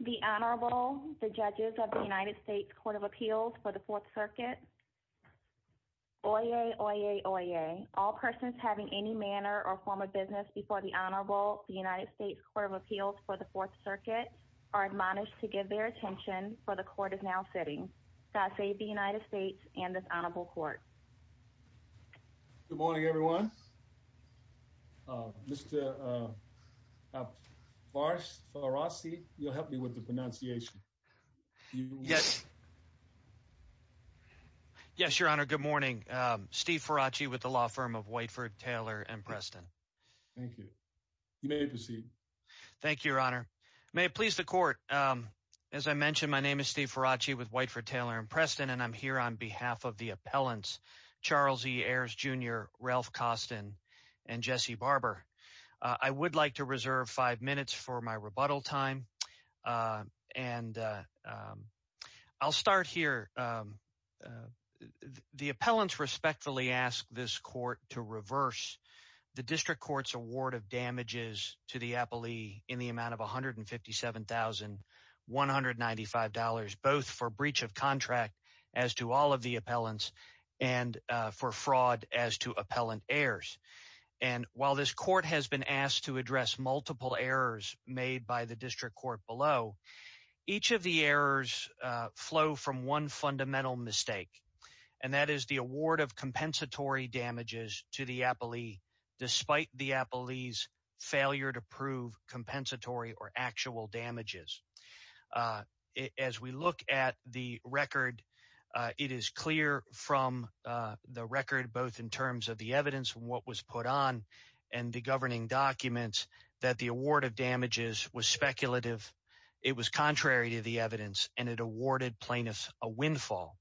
The Honorable, the Judges of the United States Court of Appeals for the Fourth Circuit. Oyez, oyez, oyez. All persons having any manner or form of business before the Honorable, the United States Court of Appeals for the Fourth Circuit are admonished to give their attention, for the Court is now sitting. God save the United States and this Honorable Court. Good morning, everyone. Mr. Faraci, you'll help me with the pronunciation. Yes. Yes, Your Honor. Good morning. Steve Faraci with the law firm of Whiteford, Taylor & Preston. Thank you. You may proceed. Thank you, Your Honor. May it please the Court. As I mentioned, my name is Steve Faraci with Whiteford, Taylor & Preston, and I'm here on behalf of the appellants, Charles Ayers, Jr., Ralph Koston, and Jesse Barber. I would like to reserve five minutes for my rebuttal time, and I'll start here. The appellants respectfully ask this Court to reverse the District Court's award of damages to the appellee in the amount of $157,195, both for breach of contract, as to all of the appellants, and for fraud, as to appellant Ayers. And while this Court has been asked to address multiple errors made by the District Court below, each of the errors flow from one fundamental mistake, and that is the award of compensatory damages to the appellee, despite the appellee's failure to prove compensatory or actual damages. As we look at the record, it is clear from the record, both in terms of the evidence and what was put on, and the governing documents, that the award of damages was speculative. It was contrary to the evidence, and it awarded plaintiffs a windfall.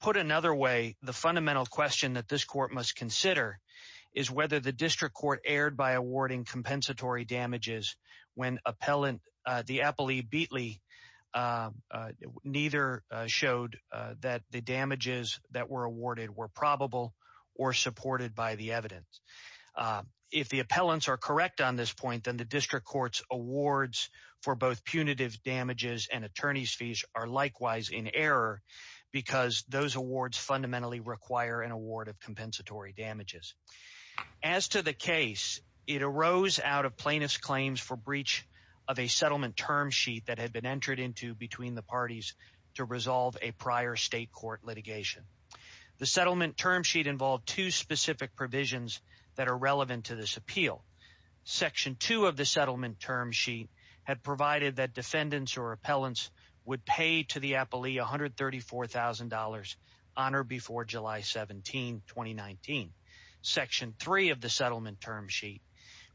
Put another way, the fundamental question that this Court must consider is whether the District Court erred by awarding compensatory damages when the appellee, Beatley, neither showed that the damages that were awarded were probable or supported by the evidence. If the appellants are correct on this point, then the District Court's awards for both because those awards fundamentally require an award of compensatory damages. As to the case, it arose out of plaintiffs' claims for breach of a settlement term sheet that had been entered into between the parties to resolve a prior state court litigation. The settlement term sheet involved two specific provisions that are relevant to this appeal. Section 2 of the settlement term sheet had provided that defendants or appellants would pay to the appellee $134,000 on or before July 17, 2019. Section 3 of the settlement term sheet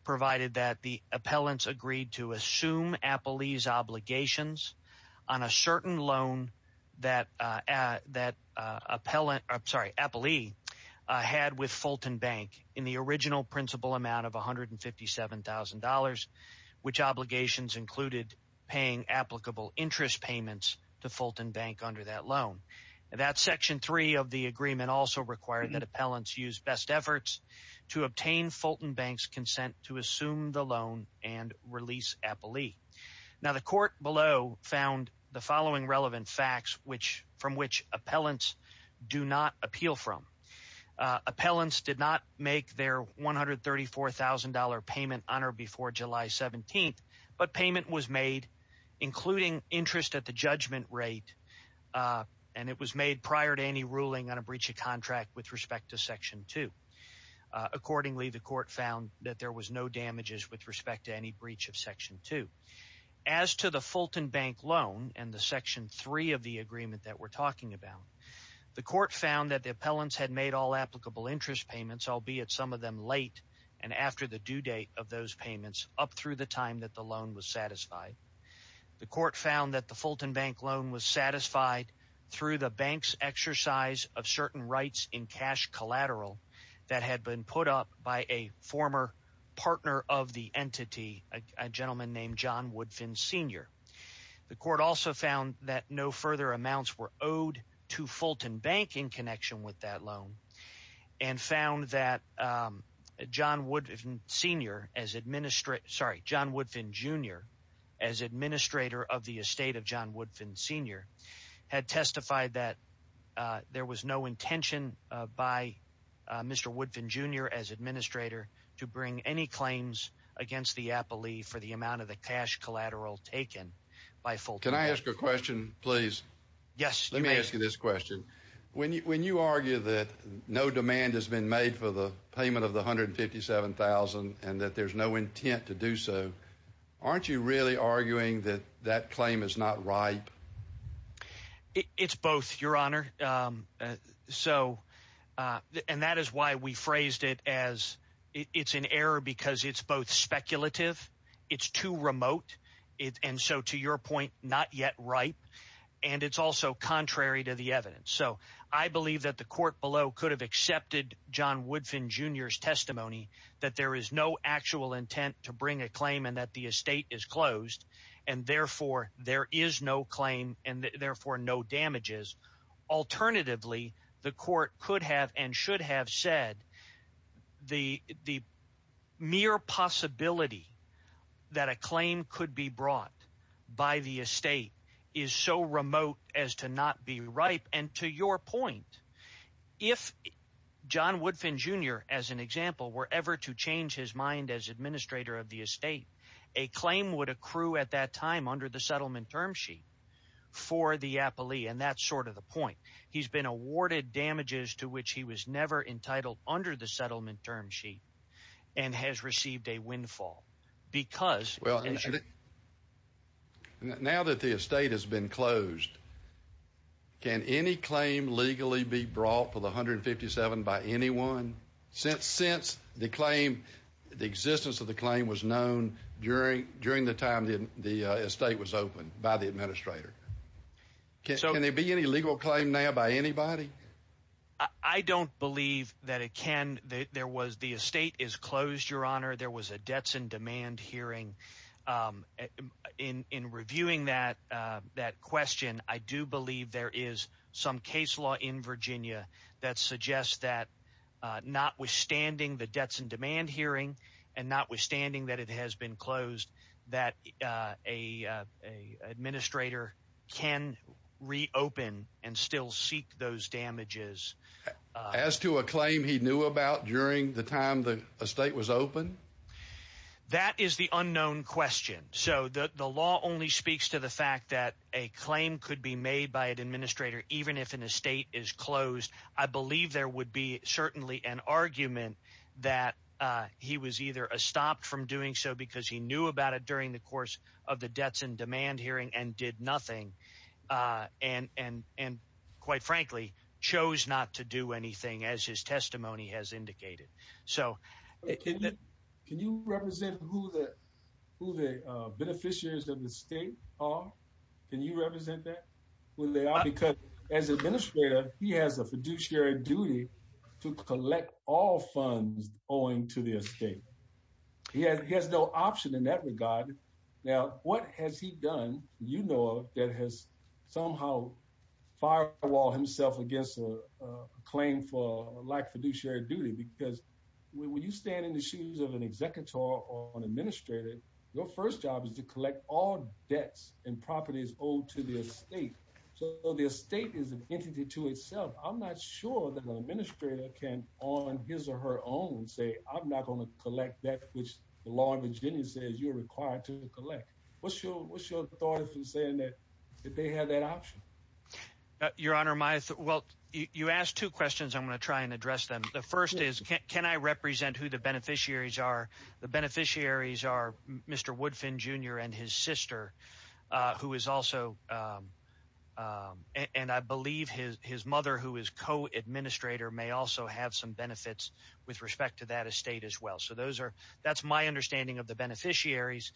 provided that the appellants agreed to assume appellee's obligations on a certain loan that appellant, sorry, appellee had with Fulton Bank in the original principal amount of $157,000, which obligations included paying applicable interest payments to Fulton Bank under that loan. That Section 3 of the agreement also required that appellants use best efforts to obtain Fulton Bank's consent to assume the loan and release appellee. Now, the court below found the following relevant facts from which appellants do not appeal from. Appellants did not make their $134,000 payment on or before July 17, but payment was made including interest at the judgment rate, and it was made prior to any ruling on a breach of contract with respect to Section 2. Accordingly, the court found that there was no damages with respect to any breach of Section 2. As to the Fulton Bank loan and the Section 3 of the agreement that we're talking about, the court found that the appellants had made all applicable interest payments, albeit some of them late and after the due date of those payments up through the time that the loan was satisfied. The court found that the Fulton Bank loan was satisfied through the bank's exercise of certain rights in cash collateral that had been put up by a former partner of the entity, a gentleman named John Woodfin, Sr. The court also found that no further amounts were owed to Fulton Bank in connection with that loan and found that John Woodfin, Sr., as administrator of the estate of John Woodfin, Sr., had testified that there was no intention by Mr. Woodfin, Jr. as administrator to bring any claims against the appellee for the amount of the cash collateral taken by Fulton Bank. Can I ask a question, please? Yes, you may. Let me ask you this question. When you argue that no demand has been made for the payment of the $157,000 and that there's no intent to do so, aren't you really arguing that that claim is not ripe? It's both, Your Honor. And that is why we phrased it as it's an error because it's both speculative, it's too remote, and so to your point, not yet ripe, and it's also contrary to the evidence. So I believe that the court below could have accepted John Woodfin, Jr.'s testimony that there is no actual intent to bring a claim and that the estate is closed and therefore there is no claim and therefore no damages. Alternatively, the court could have and should have said the mere possibility that a claim could be brought by the estate is so remote as to not be ripe. And to your point, if John Woodfin, Jr., as an example, were ever to change his mind as administrator of the estate, a claim would accrue at that time under the settlement term sheet for the appellee, and that's sort of the point. He's been awarded damages to which he was never entitled under the settlement term sheet and has received a windfall because— Now that the estate has been closed, can any claim legally be brought for the $157,000 by anyone? Since the claim, the existence of the claim was known during the time the estate was opened by the administrator. Can there be any legal claim now by anybody? I don't believe that it can. The estate is closed, Your Honor. There was a debts and demand hearing. In reviewing that question, I do believe there is some case law in Virginia that suggests that notwithstanding the debts and demand hearing and notwithstanding that it has been closed, that an administrator can reopen and still seek those damages. As to a claim he knew about during the time the estate was opened? That is the unknown question. So the law only speaks to the fact that a claim could be made by an administrator even if an estate is closed. I believe there would be certainly an argument that he was either stopped from doing so because he knew about it during the course of the debts and demand hearing and did nothing and, quite frankly, chose not to do anything as his testimony has indicated. Can you represent who the beneficiaries of the estate are? Can you represent that? Because as administrator, he has a fiduciary duty to collect all funds owing to the estate. He has no option in that regard. Now, what has he done, you know, that has somehow firewalled himself against a claim like fiduciary duty? Because when you stand in the shoes of an executor or an administrator, your first job is to collect all debts and properties owed to the estate. So the estate is an entity to itself. I'm not sure that an administrator can on his or her own say, I'm not going to collect that which the law of Virginia says you're required to collect. What's your thought if he's saying that they have that option? Your Honor, my—well, you asked two questions. I'm going to try and address them. The first is, can I represent who the beneficiaries are? The beneficiaries are Mr. Woodfin Jr. and his sister, who is also— and I believe his mother, who is co-administrator, may also have some benefits with respect to that estate as well. So those are—that's my understanding of the beneficiaries.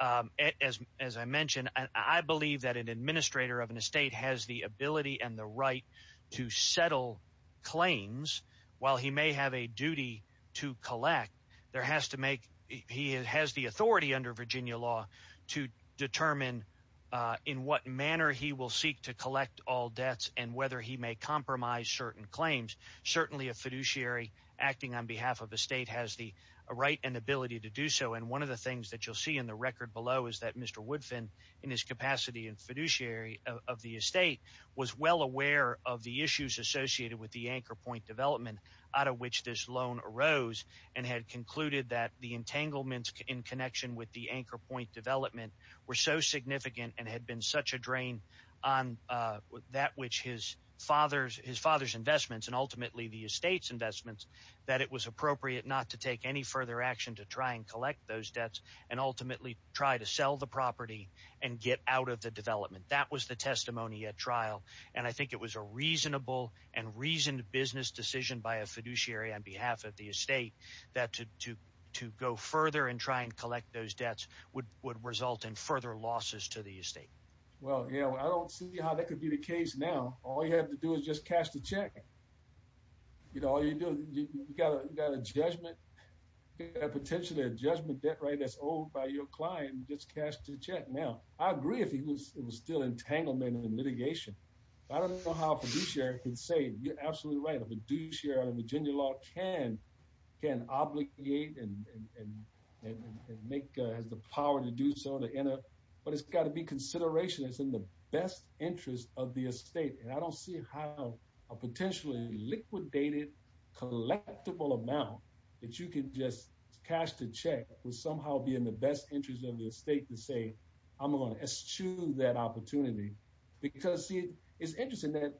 As I mentioned, I believe that an administrator of an estate has the ability and the right to settle claims. While he may have a duty to collect, there has to make—he has the authority under Virginia law to determine in what manner he will seek to collect all debts and whether he may compromise certain claims. Certainly, a fiduciary acting on behalf of the state has the right and ability to do so. And one of the things that you'll see in the record below is that Mr. Woodfin, in his capacity in fiduciary of the estate, was well aware of the issues associated with the anchor point development out of which this loan arose and had concluded that the entanglements in connection with the anchor point development were so significant and had been such a drain on that which his father's—his father's investments and ultimately the estate's investments that it was appropriate not to take any further action to try and collect those debts and ultimately try to sell the property and get out of the development. That was the testimony at trial. And I think it was a reasonable and reasoned business decision by a fiduciary on behalf of the estate that to go further and try and collect those debts would result in further losses to the estate. Well, you know, I don't see how that could be the case now. All you have to do is just cash the check. You know, all you do—you've got a judgment—potentially a judgment debt rate that's owed by your client. Just cash the check. Now, I agree if it was still entanglement and litigation. I don't know how a fiduciary can say—you're absolutely right. A fiduciary under Virginia law can—can obligate and make—has the power to do so. But it's got to be consideration. It's in the best interest of the estate. And I don't see how a potentially liquidated, collectible amount that you can just cash the check will somehow be in the best interest of the estate to say, I'm going to eschew that opportunity. Because, see, it's interesting that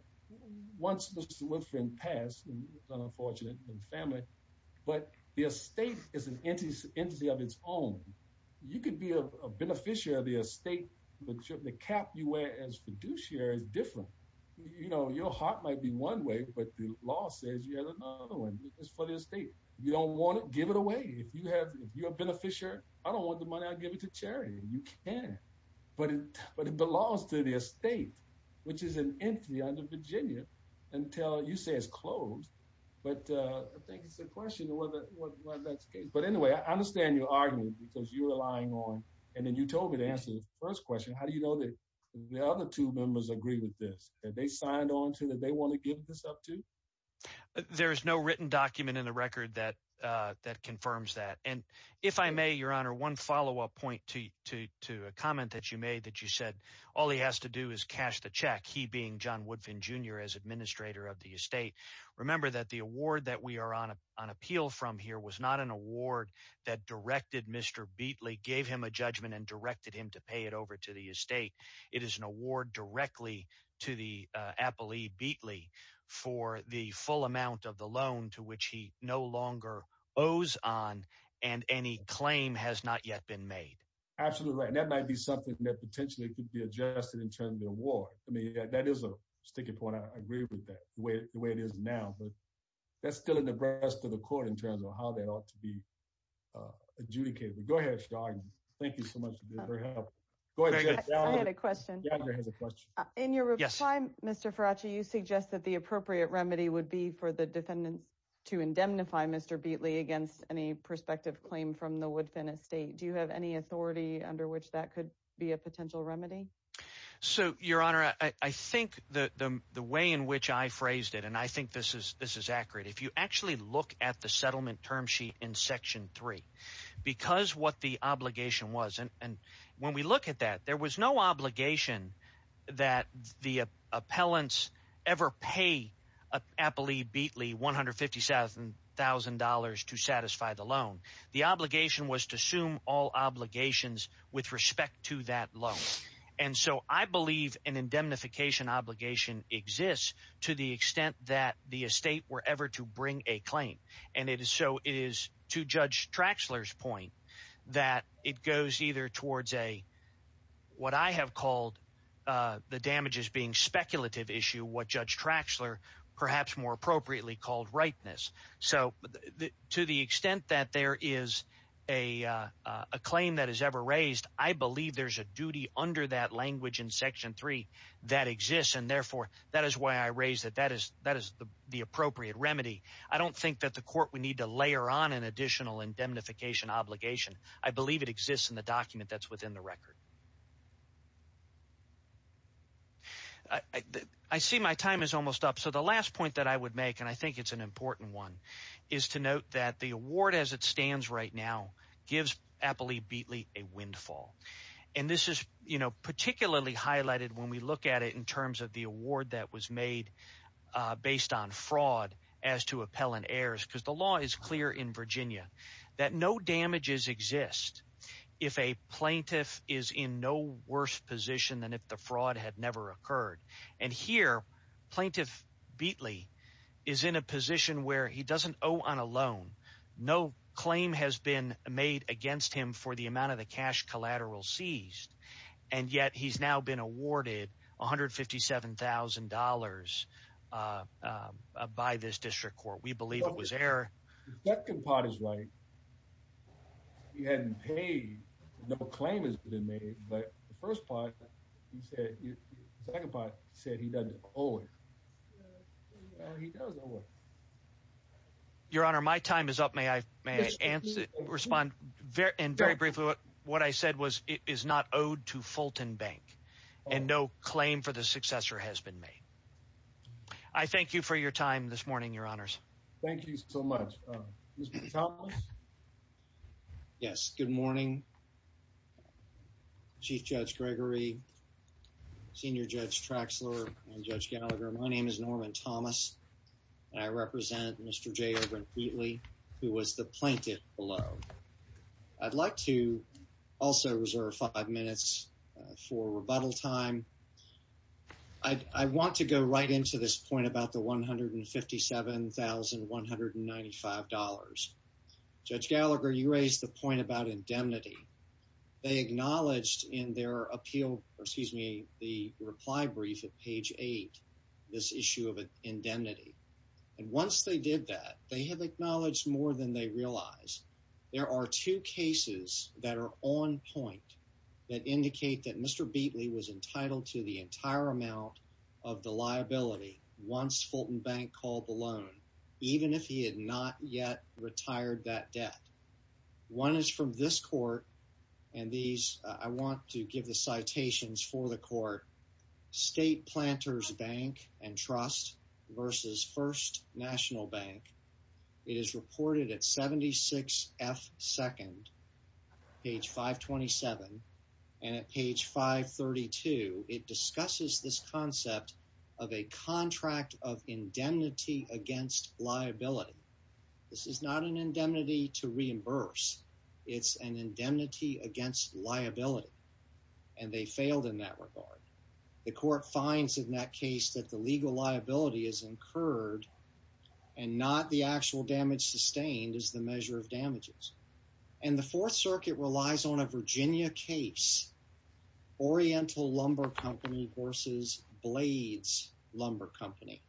once Mr. Woodfin passed—unfortunate—and family, but the estate is an entity of its own. You could be a beneficiary of the estate. The cap you wear as fiduciary is different. You know, your heart might be one way, but the law says you have another one. It's for the estate. You don't want it? Give it away. If you have—if you're a beneficiary, I don't want the money. I'll give it to charity. You can. But it belongs to the estate, which is an entity under Virginia until you say it's closed. But I think it's a question of whether that's the case. But anyway, I understand your argument, because you were lying on—and then you told me to answer the first question. How do you know that the other two members agree with this? That they signed on to—that they want to give this up to? There is no written document in the record that confirms that. And if I may, Your Honor, one follow-up point to a comment that you made that you said all he has to do is cash the check, he being John Woodfin Jr. as administrator of the estate. Remember that the award that we are on appeal from here was not an award that directed Mr. Beatley, gave him a judgment, and directed him to pay it over to the estate. It is an award directly to the appellee, Beatley, for the full amount of the loan to which he no longer owes on and any claim has not yet been made. Absolutely right. And that might be something that potentially could be adjusted in terms of the award. I mean, that is a sticking point. I agree with that. The way it is now. But that is still in the breast of the court in terms of how that ought to be adjudicated. Go ahead, Mr. Arden. Thank you so much for your help. Go ahead. I had a question. In your reply, Mr. Faraci, you suggest that the appropriate remedy would be for the defendants to indemnify Mr. Beatley against any prospective claim from the Woodfin estate. Do you have any authority under which that could be a potential remedy? So, Your Honor, I think the way in which I phrased it, and I think this is accurate, if you actually look at the settlement term sheet in Section 3, because what the obligation was, and when we look at that, there was no obligation that the appellants ever pay Appellee Beatley $150,000 to satisfy the loan. The obligation was to assume all obligations with respect to that loan. And so I believe an indemnification obligation exists to the extent that the estate were ever to bring a claim. And so it is to Judge Traxler's point that it goes either towards what I have called the damages being speculative issue, what Judge Traxler perhaps more appropriately called rightness. So to the extent that there is a claim that is ever raised, I believe there's a duty under that language in Section 3 that exists. And therefore, that is why I raise that that is the appropriate remedy. I don't think that the court would need to layer on an additional indemnification obligation. I believe it exists in the document that's within the record. I see my time is almost up. So the last point that I would make, and I think it's an important one, is to note that the award as it stands right now gives Appellee Beatley a windfall. And this is particularly highlighted when we look at it in terms of the award that was made based on fraud as to appellant heirs, because the law is clear in Virginia that no damages exist if a plaintiff is in no worse position than if the fraud had never occurred. And here, Plaintiff Beatley is in a position where he doesn't owe on a loan. No claim has been made against him for the amount of the cash collateral seized. And yet he's now been awarded $157,000 by this district court. We believe it was error. The second part is right. He hadn't paid. No claim has been made. But the first part, he said, the second part said he doesn't owe it. He does owe it. Your Honor, my time is up. May I respond? And very briefly, what I said was it is not owed to Fulton Bank and no claim for the successor has been made. I thank you for your time this morning, Your Honors. Thank you so much. Mr. Thomas? Yes. Good morning. Chief Judge Gregory, Senior Judge Traxler, and Judge Gallagher. My name is Norman Thomas. I represent Mr. J. Beatley, who was the plaintiff below. I'd like to also reserve five minutes for rebuttal time. I want to go right into this point about the $157,195. Judge Gallagher, you raised the point about indemnity. They acknowledged in their appeal, excuse me, the reply brief at page eight, this issue of indemnity. And once they did that, they have acknowledged more than they realize. There are two cases that are on point that indicate that Mr. Beatley was entitled to the entire amount of the liability once Fulton Bank called the loan, even if he had not yet retired that debt. One is from this court, and these, I want to give the citations for the court. State Planters Bank and Trust versus First National Bank. It is reported at 76F2nd, page 527, and at page 532, it discusses this concept of a contract of indemnity against liability. This is not an indemnity to reimburse. It's an indemnity against liability, and they failed in that regard. The court finds in that case that the legal liability is incurred and not the actual damage sustained as the measure of damages. And the Fourth Circuit relies on a Virginia case, Oriental Lumber Company versus Blades Lumber Company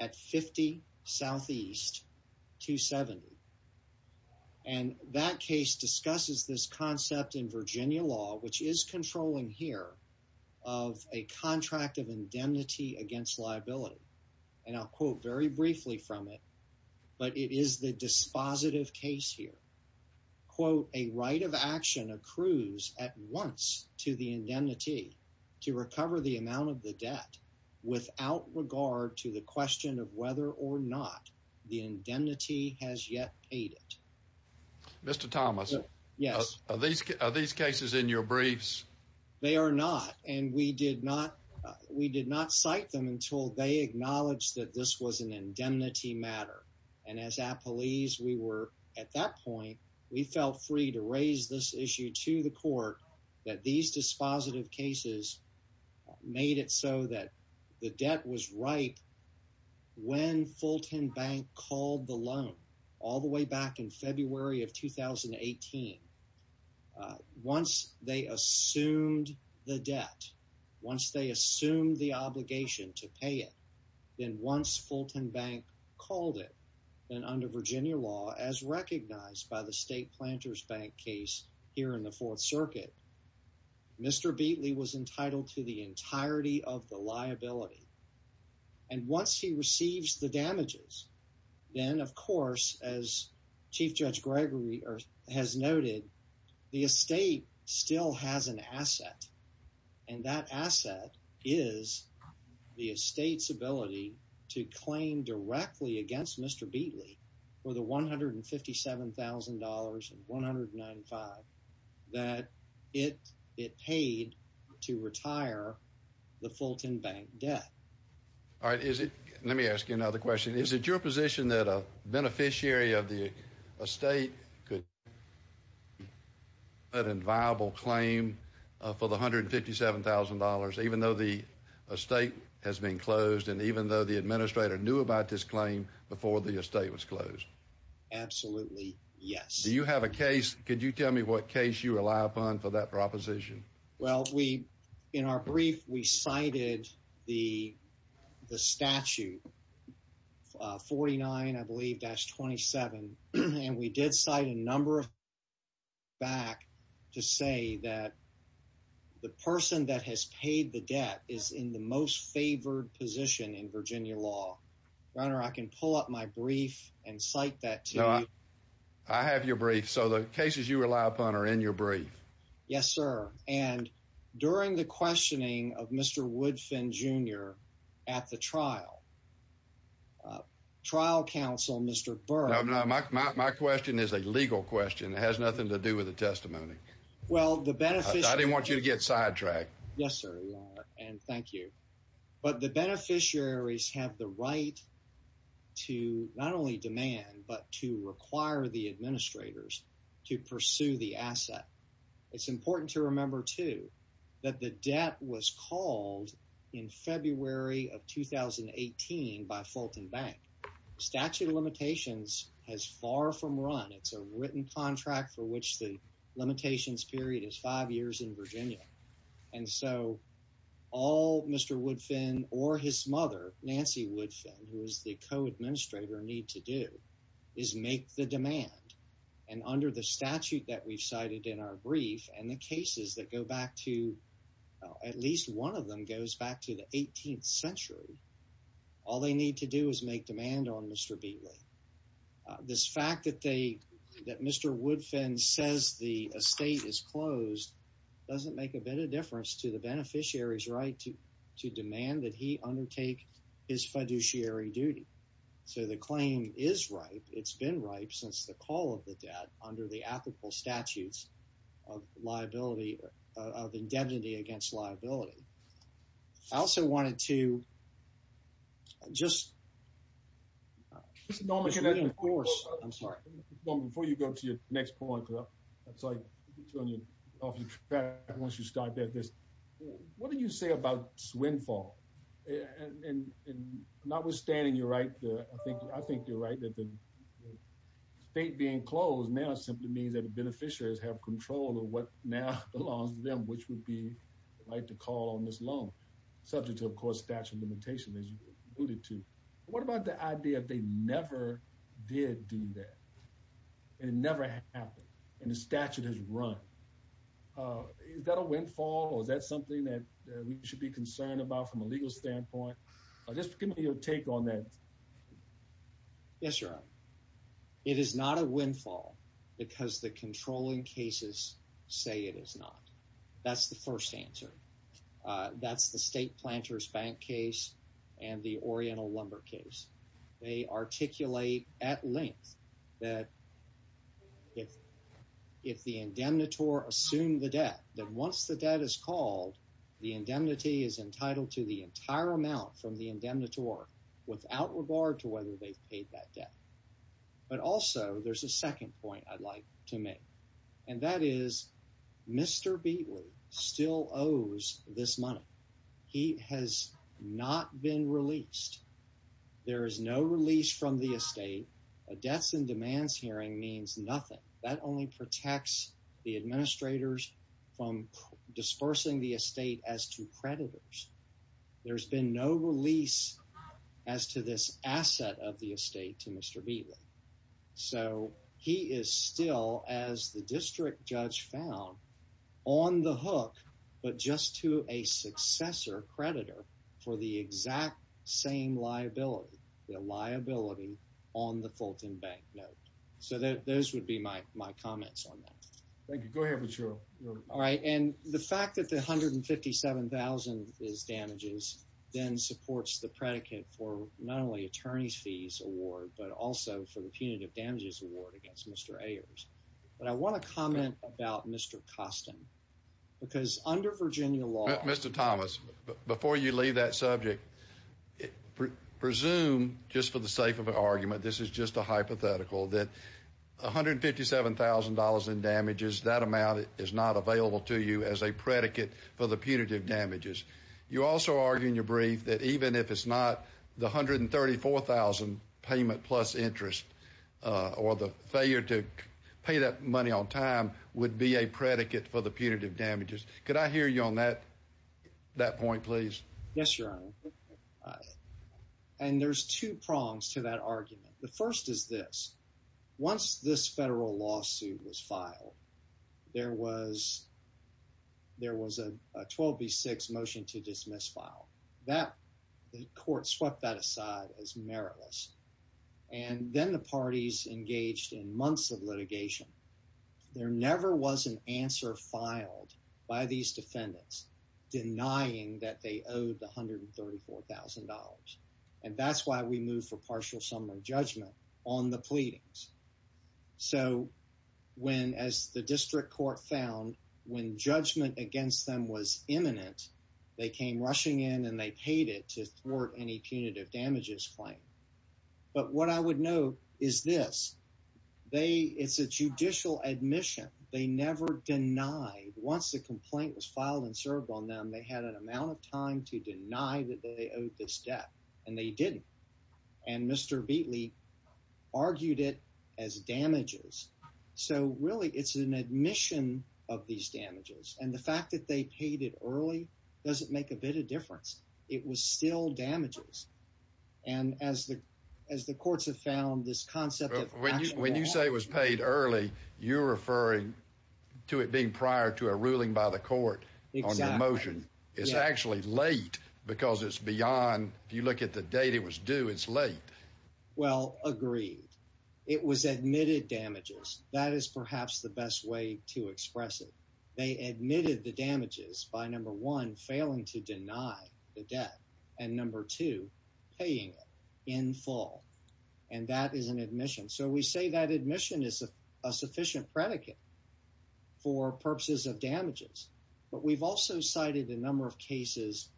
at 50S270. And that case discusses this concept in Virginia law, which is controlling here of a contract of indemnity against liability. And I'll quote very briefly from it, but it is the dispositive case here. Quote, a right of action accrues at once to the indemnity to recover the amount of the debt without regard to the question of whether or not the indemnity has yet paid it. Mr. Thomas? Yes. Are these cases in your briefs? They are not, and we did not cite them until they acknowledged that this was an indemnity matter. And as appellees, we were at that point, we felt free to raise this issue to the court that these dispositive cases made it so that the debt was right. When Fulton Bank called the loan all the way back in February of 2018, once they assumed the debt, once they assumed the obligation to pay it, then once Fulton Bank called it, then under Virginia law, as recognized by the State Planters Bank case here in the Fourth Circuit, Mr. Beatley was entitled to the entirety of the liability. And once he receives the damages, then of course, as Chief Judge Gregory has noted, the estate still has an asset. And that asset is the estate's ability to claim directly against Mr. Beatley for the $157,000 and $195,000 that it paid to retire the Fulton Bank debt. All right, let me ask you another question. Is it your position that a beneficiary of the estate could make an inviolable claim for the $157,000 even though the estate has been closed and even though the administrator knew about this claim before the estate was closed? Absolutely, yes. Do you have a case, could you tell me what case you rely upon for that proposition? Well, in our brief, we cited the statute 49, I believe, dash 27, and we did cite a number of cases back to say that the person that has paid the debt is in the most favored position in Virginia law. Your Honor, I can pull up my brief and cite that to you. I have your brief, so the cases you rely upon are in your brief. Yes, sir. And during the questioning of Mr. Woodfin, Jr. at the trial, trial counsel, Mr. Burr… No, no, my question is a legal question. It has nothing to do with the testimony. Well, the beneficiary… I didn't want you to get sidetracked. Yes, sir, Your Honor, and thank you. But the beneficiaries have the right to not only demand but to require the administrators to pursue the asset. It's important to remember, too, that the debt was called in February of 2018 by Fulton Bank. The statute of limitations has far from run. It's a written contract for which the limitations period is five years in Virginia. And so all Mr. Woodfin or his mother, Nancy Woodfin, who is the co-administrator, need to do is make the demand. And under the statute that we've cited in our brief and the cases that go back to… at least one of them goes back to the 18th century, all they need to do is make demand on Mr. Beatley. This fact that Mr. Woodfin says the estate is closed doesn't make a bit of difference to the beneficiary's right to demand that he undertake his fiduciary duty. So the claim is ripe. It's been ripe since the call of the debt under the ethical statutes of liability, of indemnity against liability. I also wanted to just… Before you go to your next point, I'm sorry to turn you off your track once you start with this. What do you say about swindle and notwithstanding your right to… Estate being closed now simply means that the beneficiaries have control of what now belongs to them, which would be the right to call on this loan, subject to, of course, statute of limitations as you alluded to. What about the idea that they never did do that? It never happened and the statute has run. Is that a windfall or is that something that we should be concerned about from a legal standpoint? Just give me your take on that. Yes, Your Honor. It is not a windfall because the controlling cases say it is not. That's the first answer. That's the State Planters Bank case and the Oriental Lumber case. They articulate at length that if the indemnitor assumed the debt, that once the debt is called, the indemnity is entitled to the entire amount from the indemnitor without regard to whether they've paid that debt. But also, there's a second point I'd like to make, and that is Mr. Beatley still owes this money. He has not been released. There is no release from the estate. A debts and demands hearing means nothing. That only protects the administrators from dispersing the estate as to creditors. There's been no release as to this asset of the estate to Mr. Beatley. So, he is still, as the district judge found, on the hook, but just to a successor creditor for the exact same liability, the liability on the Fulton Bank note. So, those would be my comments on that. Thank you. Go ahead, Patrullo. All right. And the fact that the $157,000 is damages then supports the predicate for not only attorney's fees award, but also for the punitive damages award against Mr. Ayers. But I want to comment about Mr. Costin because under Virginia law… Before you leave that subject, presume, just for the sake of argument, this is just a hypothetical, that $157,000 in damages, that amount is not available to you as a predicate for the punitive damages. You also argue in your brief that even if it's not, the $134,000 payment plus interest or the failure to pay that money on time would be a predicate for the punitive damages. Could I hear you on that point, please? Yes, Your Honor. And there's two prongs to that argument. The first is this. Once this federal lawsuit was filed, there was a 12B6 motion to dismiss file. The court swept that aside as meritless. There never was an answer filed by these defendants denying that they owed the $134,000. And that's why we moved for partial summary judgment on the pleadings. So when, as the district court found, when judgment against them was imminent, they came rushing in and they paid it to thwart any punitive damages claim. But what I would note is this. They, it's a judicial admission. They never denied, once the complaint was filed and served on them, they had an amount of time to deny that they owed this debt. And they didn't. And Mr. Beatley argued it as damages. So really, it's an admission of these damages. And the fact that they paid it early doesn't make a bit of difference. It was still damages. And as the courts have found this concept of when you say it was paid early, you're referring to it being prior to a ruling by the court on the motion. It's actually late because it's beyond. If you look at the date it was due, it's late. Well, agreed. It was admitted damages. That is perhaps the best way to express it. They admitted the damages by number one, failing to deny the debt. And number two, paying it in full. And that is an admission. So we say that admission is a sufficient predicate for purposes of damages. But we've also cited a number of cases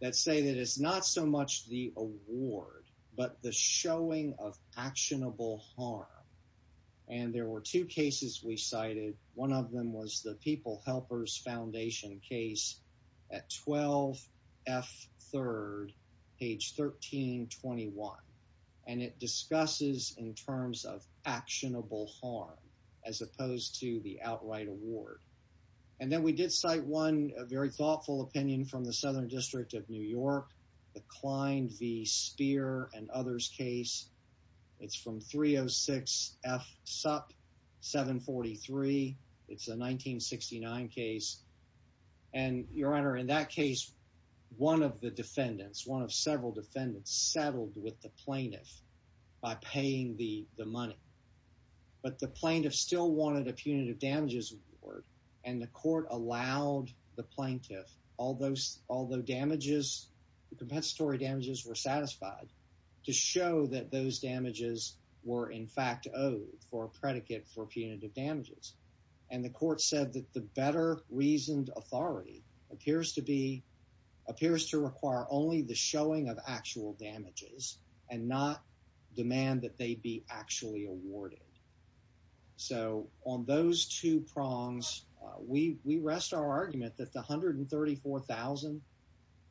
that say that it's not so much the award but the showing of actionable harm. And there were two cases we cited. One of them was the People Helpers Foundation case at 12F3rd, page 1321. And it discusses in terms of actionable harm as opposed to the outright award. And then we did cite one very thoughtful opinion from the Southern District of New York, the Klein v. Speer and others case. It's from 306F Sup 743. It's a 1969 case. And, Your Honor, in that case, one of the defendants, one of several defendants, settled with the plaintiff by paying the money. But the plaintiff still wanted a punitive damages award, and the court allowed the plaintiff, although damages, the compensatory damages were satisfied, to show that those damages were in fact owed for a predicate for punitive damages. And the court said that the better reasoned authority appears to be, appears to require only the showing of actual damages and not demand that they be actually awarded. So on those two prongs, we rest our argument that the $134,000,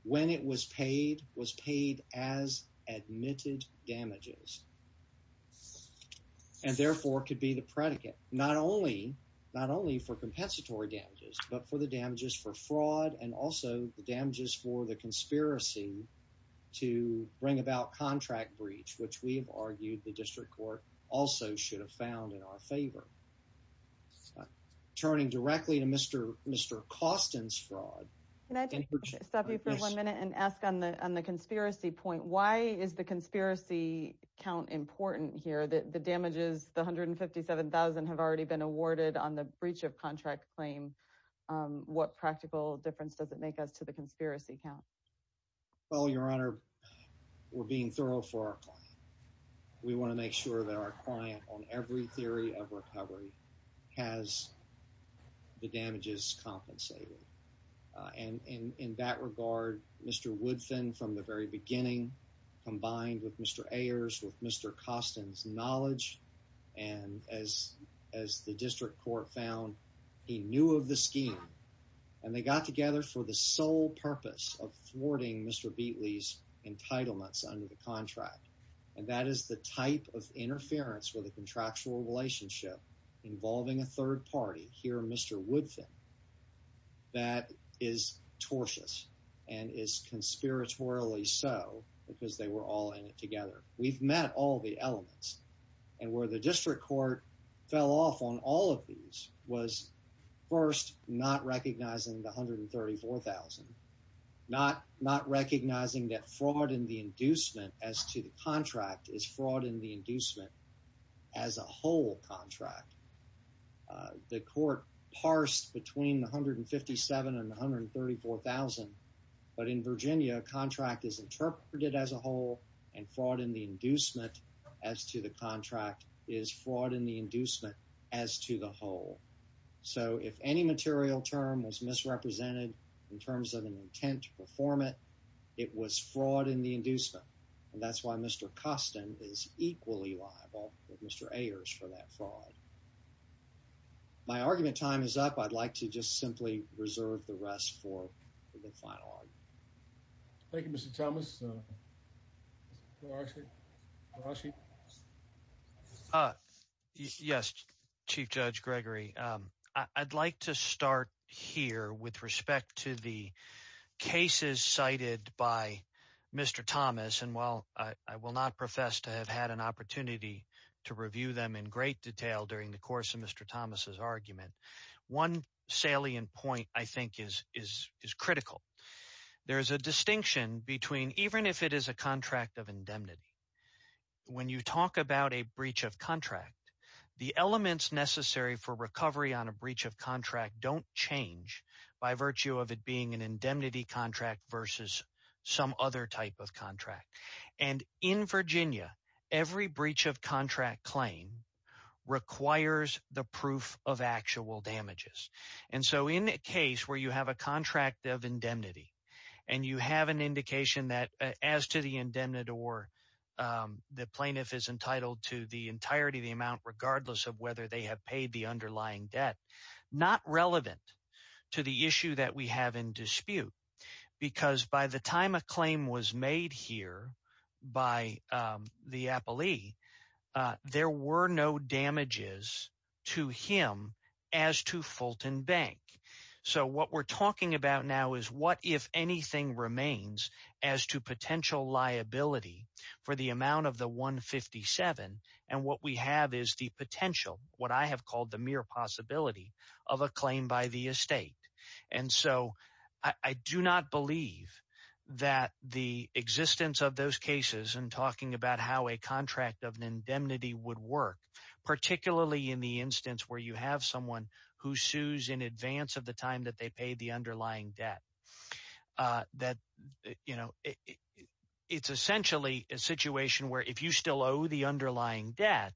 when it was paid, was paid as admitted damages, and therefore could be the predicate, not only for compensatory damages, but for the damages for fraud and also the damages for the conspiracy to bring about contract breach, which we've argued the district court also should have found in our favor. Turning directly to Mr. Costin's fraud. Can I just stop you for one minute and ask on the conspiracy point, why is the conspiracy count important here? The damages, the $157,000 have already been awarded on the breach of contract claim. What practical difference does it make us to the conspiracy count? Well, Your Honor, we're being thorough for our client. We want to make sure that our client on every theory of recovery has the damages compensated. And in that regard, Mr. Woodfin, from the very beginning, combined with Mr. Ayers, with Mr. Costin's knowledge, and as the district court found, he knew of the scheme, and they got together for the sole purpose of thwarting Mr. Beatley's entitlements under the contract. And that is the type of interference with a contractual relationship involving a third party. Here, Mr. Woodfin, that is tortious and is conspiratorially so because they were all in it together. We've met all the elements and where the district court fell off on all of these was first not recognizing the $134,000. Not recognizing that fraud in the inducement as to the contract is fraud in the inducement as a whole contract. The court parsed between $157,000 and $134,000. But in Virginia, a contract is interpreted as a whole and fraud in the inducement as to the contract is fraud in the inducement as to the whole. So if any material term was misrepresented in terms of an intent to perform it, it was fraud in the inducement. And that's why Mr. Costin is equally liable with Mr. Ayers for that fraud. My argument time is up. I'd like to just simply reserve the rest for the final argument. Thank you, Mr. Thomas. Yes, Chief Judge Gregory. I'd like to start here with respect to the cases cited by Mr. Thomas. And while I will not profess to have had an opportunity to review them in great detail during the course of Mr. Thomas's argument, one salient point I think is critical. There's a distinction between even if it is a contract of indemnity, when you talk about a breach of contract, the elements necessary for recovery on a breach of contract don't change by virtue of it being an indemnity contract versus some other type of contract. And in Virginia, every breach of contract claim requires the proof of actual damages. And so in a case where you have a contract of indemnity and you have an indication that as to the indemnity or the plaintiff is entitled to the entirety of the amount regardless of whether they have paid the underlying debt, not relevant to the issue that we have in dispute. Because by the time a claim was made here by the appellee, there were no damages to him as to Fulton Bank. So what we're talking about now is what, if anything, remains as to potential liability for the amount of the 157. And what we have is the potential, what I have called the mere possibility of a claim by the estate. And so I do not believe that the existence of those cases and talking about how a contract of indemnity would work, particularly in the instance where you have someone who sues in advance of the time that they pay the underlying debt. That, you know, it's essentially a situation where if you still owe the underlying debt,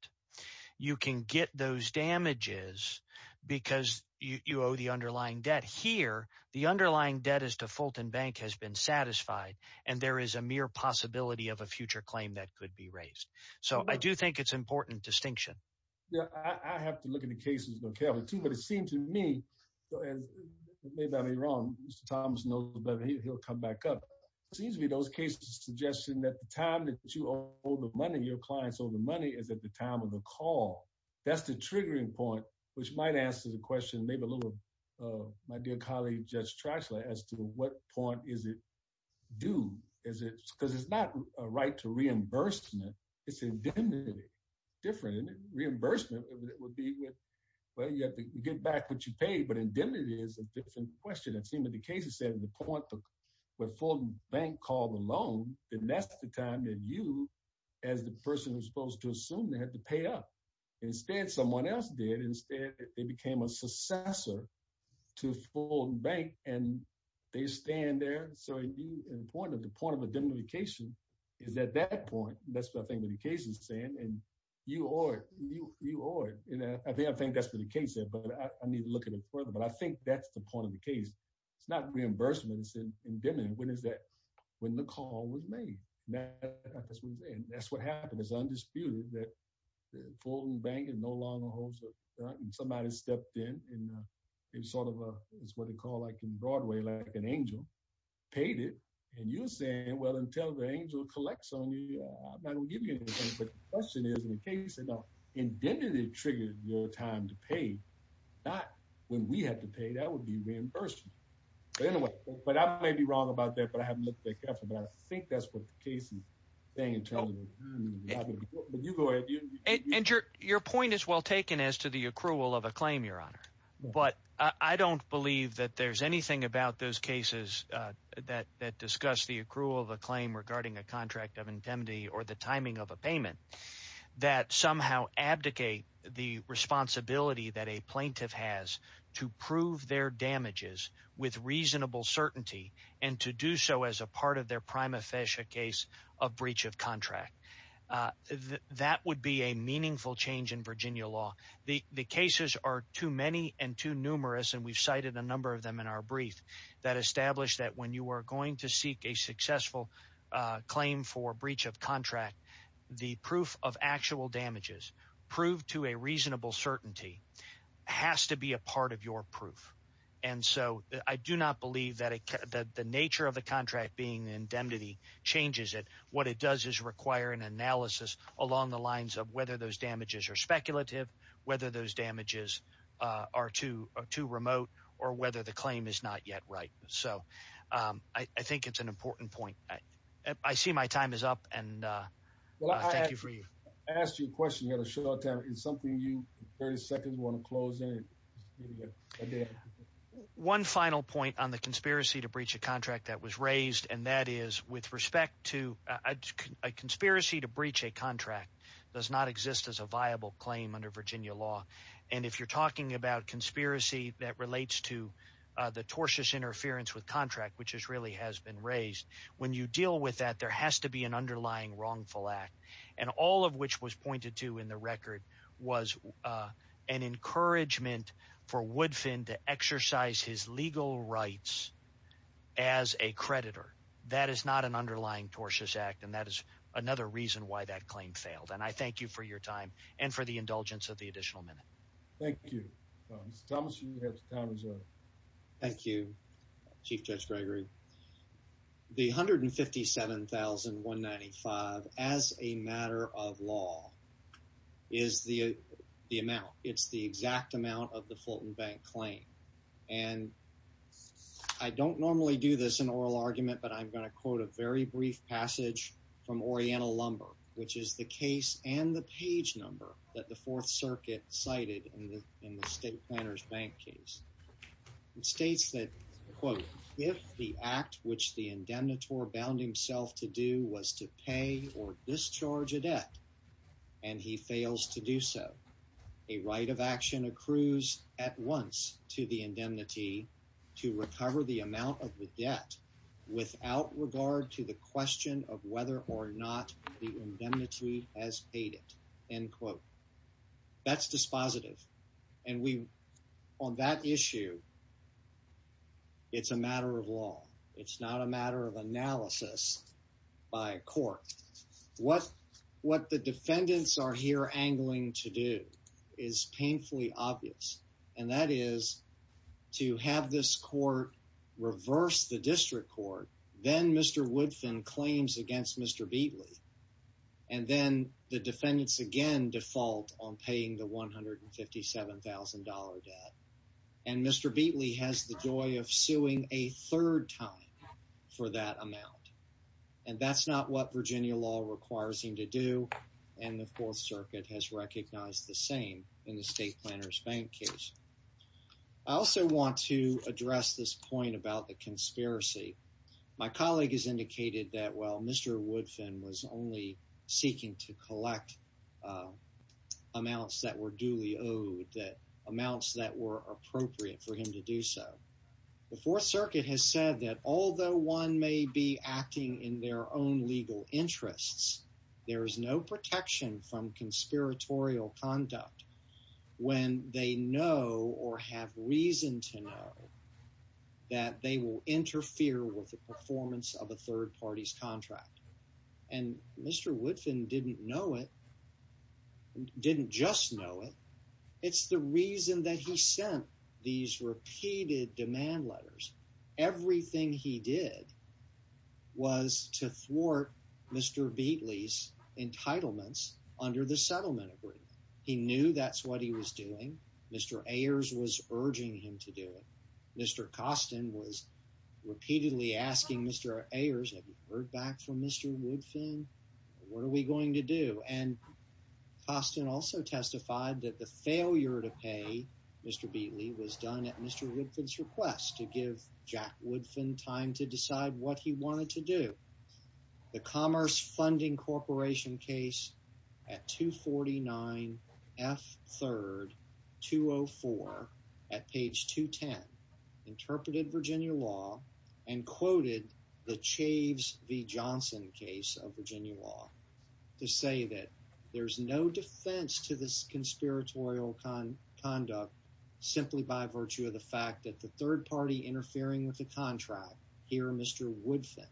you can get those damages because you owe the underlying debt here. The underlying debt is to Fulton Bank has been satisfied and there is a mere possibility of a future claim that could be raised. So I do think it's important distinction. Yeah, I have to look at the cases, but it seemed to me, maybe I'm wrong, Mr. Thomas knows better, he'll come back up. It seems to me those cases suggesting that the time that you owe the money, your clients owe the money is at the time of the call. That's the triggering point, which might answer the question, maybe a little of my dear colleague, Judge Trashler, as to what point is it due? Because it's not a right to reimbursement, it's indemnity. Different reimbursement would be with, well, you have to get back what you paid, but indemnity is a different question. It seemed that the case is at the point where Fulton Bank called the loan. And that's the time that you, as the person who's supposed to assume that, had to pay up. Instead, someone else did. Instead, they became a successor to Fulton Bank and they stand there. So the point of indemnification is at that point. That's what I think the case is saying. And you owe it. I think that's the case there, but I need to look at it further. But I think that's the point of the case. It's not reimbursement, it's indemnity. When is that? When the call was made. That's what I'm saying. That's what happened. It's undisputed that Fulton Bank is no longer a host. Somebody stepped in and sort of, it's what they call in Broadway, like an angel, paid it. And you're saying, well, until the angel collects on you, I'm not going to give you anything. But the question is, in the case of indemnity triggered your time to pay, not when we had to pay. That would be reimbursement. But anyway, I may be wrong about that, but I haven't looked at it carefully. But I think that's what the case is saying. And your point is well taken as to the accrual of a claim, Your Honor. But I don't believe that there's anything about those cases that discuss the accrual of a claim regarding a contract of indemnity or the timing of a payment that somehow abdicate the responsibility that a plaintiff has to prove their damages with reasonable certainty and to do so as a part of their prima facie case of breach of contract. That would be a meaningful change in Virginia law. The cases are too many and too numerous. And we've cited a number of them in our brief that established that when you are going to seek a successful claim for breach of contract, the proof of actual damages proved to a reasonable certainty has to be a part of your proof. And so I do not believe that the nature of the contract being indemnity changes it. What it does is require an analysis along the lines of whether those damages are speculative, whether those damages are too remote or whether the claim is not yet right. So I think it's an important point. I see my time is up and thank you for you. I asked you a question. You had a short time. It's something you 30 seconds want to close in. One final point on the conspiracy to breach a contract that was raised, and that is with respect to a conspiracy to breach a contract does not exist as a viable claim under Virginia law. And if you're talking about conspiracy that relates to the tortious interference with contract, which is really has been raised when you deal with that, there has to be an underlying wrongful act. And all of which was pointed to in the record was an encouragement for Woodfin to exercise his legal rights as a creditor. That is not an underlying tortious act. And that is another reason why that claim failed. And I thank you for your time and for the indulgence of the additional minute. Thank you. Thomas. Thank you, Chief Judge Gregory. The hundred and fifty seven thousand one ninety five as a matter of law is the amount. It's the exact amount of the Fulton Bank claim. And I don't normally do this in oral argument, but I'm going to quote a very brief passage from Oriental Lumber, which is the case and the page number that the Fourth Circuit cited in the state planners bank case. It states that, quote, if the act which the indemnitory bound himself to do was to pay or discharge a debt and he fails to do so, a right of action accrues at once to the indemnity to recover the amount of the debt without regard to the question of whether or not the indemnity has paid it. That's dispositive. And we on that issue. It's a matter of law. It's not a matter of analysis by court. What what the defendants are here angling to do is painfully obvious. And that is to have this court reverse the district court. Then Mr. Woodfin claims against Mr. Beatley. And then the defendants again default on paying the one hundred and fifty seven thousand dollar debt. And Mr. Beatley has the joy of suing a third time for that amount. And that's not what Virginia law requires him to do. And the Fourth Circuit has recognized the same in the state planners bank case. I also want to address this point about the conspiracy. My colleague has indicated that while Mr. Woodfin was only seeking to collect amounts that were duly owed, that amounts that were appropriate for him to do so. The Fourth Circuit has said that although one may be acting in their own legal interests, there is no protection from conspiratorial conduct when they know or have reason to know that they will interfere with the performance of a third party's contract. And Mr. Woodfin didn't know it. Didn't just know it. It's the reason that he sent these repeated demand letters. Everything he did was to thwart Mr. Beatley's entitlements under the settlement agreement. He knew that's what he was doing. Mr. Ayers was urging him to do it. Mr. Costin was repeatedly asking Mr. Ayers, have you heard back from Mr. Woodfin? What are we going to do? And Costin also testified that the failure to pay Mr. Beatley was done at Mr. Woodfin's request to give Jack Woodfin time to decide what he wanted to do. The Commerce Funding Corporation case at 249 F 3rd 204 at page 210 interpreted Virginia law and quoted the Chaves v. Johnson case of Virginia law to say that there's no defense to this conspiratorial conduct simply by virtue of the fact that the third party interfering with the contract, here Mr. Woodfin,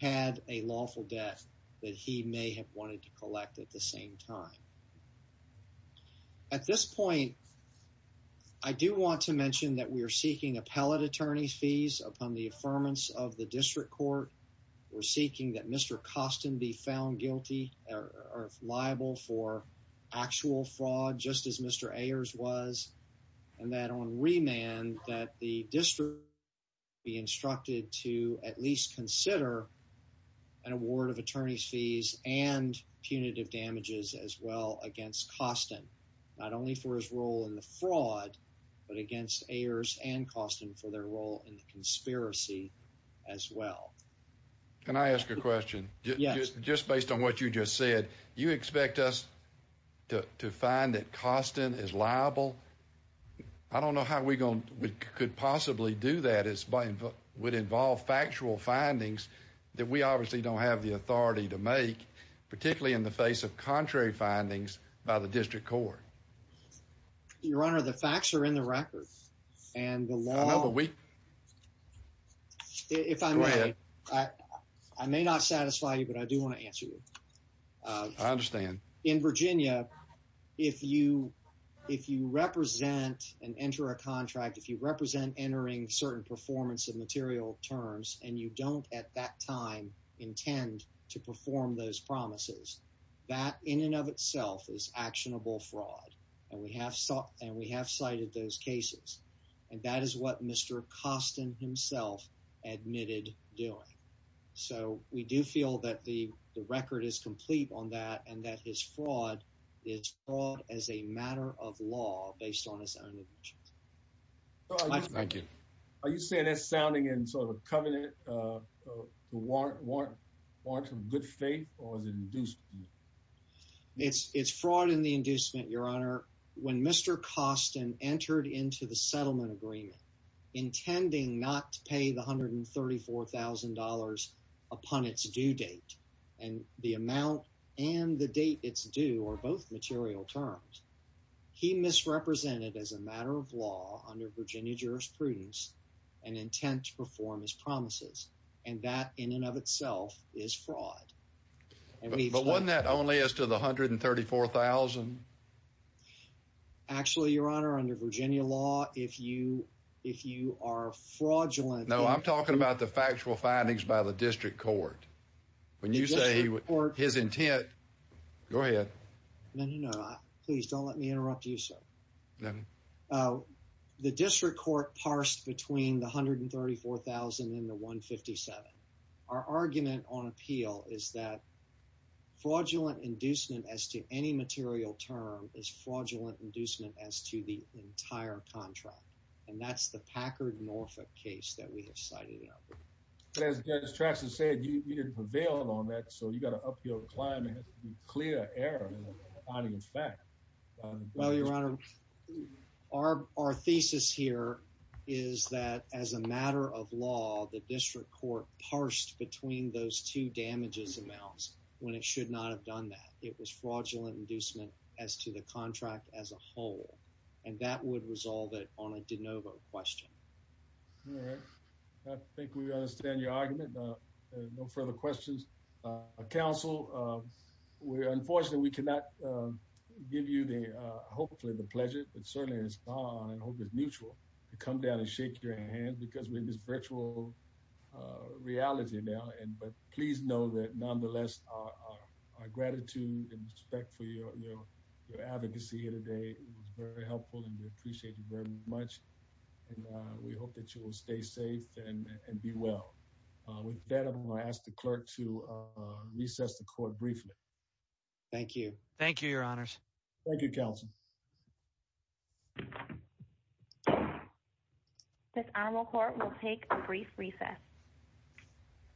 had a lawful death that he may have wanted to collect at the same time. At this point, I do want to mention that we are seeking appellate attorney fees upon the affirmance of the district court. We're seeking that Mr. Costin be found guilty or liable for actual fraud, just as Mr. Ayers was, and that on remand that the district be instructed to at least consider an award of attorney's fees and punitive damages as well against Costin, not only for his role in the fraud, but against Ayers and Costin for their role in the conspiracy as well. Can I ask a question? Yes. Just based on what you just said, you expect us to find that Costin is liable? I don't know how we could possibly do that. It would involve factual findings that we obviously don't have the authority to make, particularly in the face of contrary findings by the district court. Your Honor, the facts are in the records and the law... I know, but we... If I may... Go ahead. I may not satisfy you, but I do want to answer you. I understand. In Virginia, if you represent and enter a contract, if you represent entering certain performance of material terms and you don't at that time intend to perform those promises, that in and of itself is actionable fraud. And we have cited those cases. And that is what Mr. Costin himself admitted doing. So we do feel that the record is complete on that and that his fraud is a matter of law based on his own... Thank you. Are you saying that's sounding in sort of a covenant to warrant some good faith or is it inducement? It's fraud in the inducement, Your Honor. When Mr. Costin entered into the settlement agreement intending not to pay the $134,000 upon its due date and the amount and the date it's due are both material terms, he misrepresented as a matter of law under Virginia jurisprudence and intent to perform his promises. And that in and of itself is fraud. But wasn't that only as to the $134,000? Actually, Your Honor, under Virginia law, if you are fraudulent... No, I'm talking about the factual findings by the district court. When you say his intent... Go ahead. No, no, no. Please don't let me interrupt you, sir. The district court parsed between the $134,000 and the $157,000. Our argument on appeal is that fraudulent inducement as to any material term is fraudulent inducement as to the entire contract. And that's the Packard-Norfolk case that we have cited. But as Judge Traxton said, you didn't prevail on that. So you got to up your climb and clear error on the fact. Well, Your Honor, our thesis here is that as a matter of law, the district court parsed between those two damages amounts when it should not have done that. It was fraudulent inducement as to the contract as a whole. And that would resolve it on a de novo question. All right. I think we understand your argument. No further questions. Counsel, unfortunately, we cannot give you, hopefully, the pleasure, but certainly it's mutual to come down and shake your hand because we're in this virtual reality now. But please know that, nonetheless, our gratitude and respect for your advocacy here today was very helpful and we appreciate you very much. And we hope that you will stay safe and be well. With that, I'm going to ask the clerk to recess the court briefly. Thank you. Thank you, Your Honors. Thank you, Counsel. This honorable court will take a brief recess.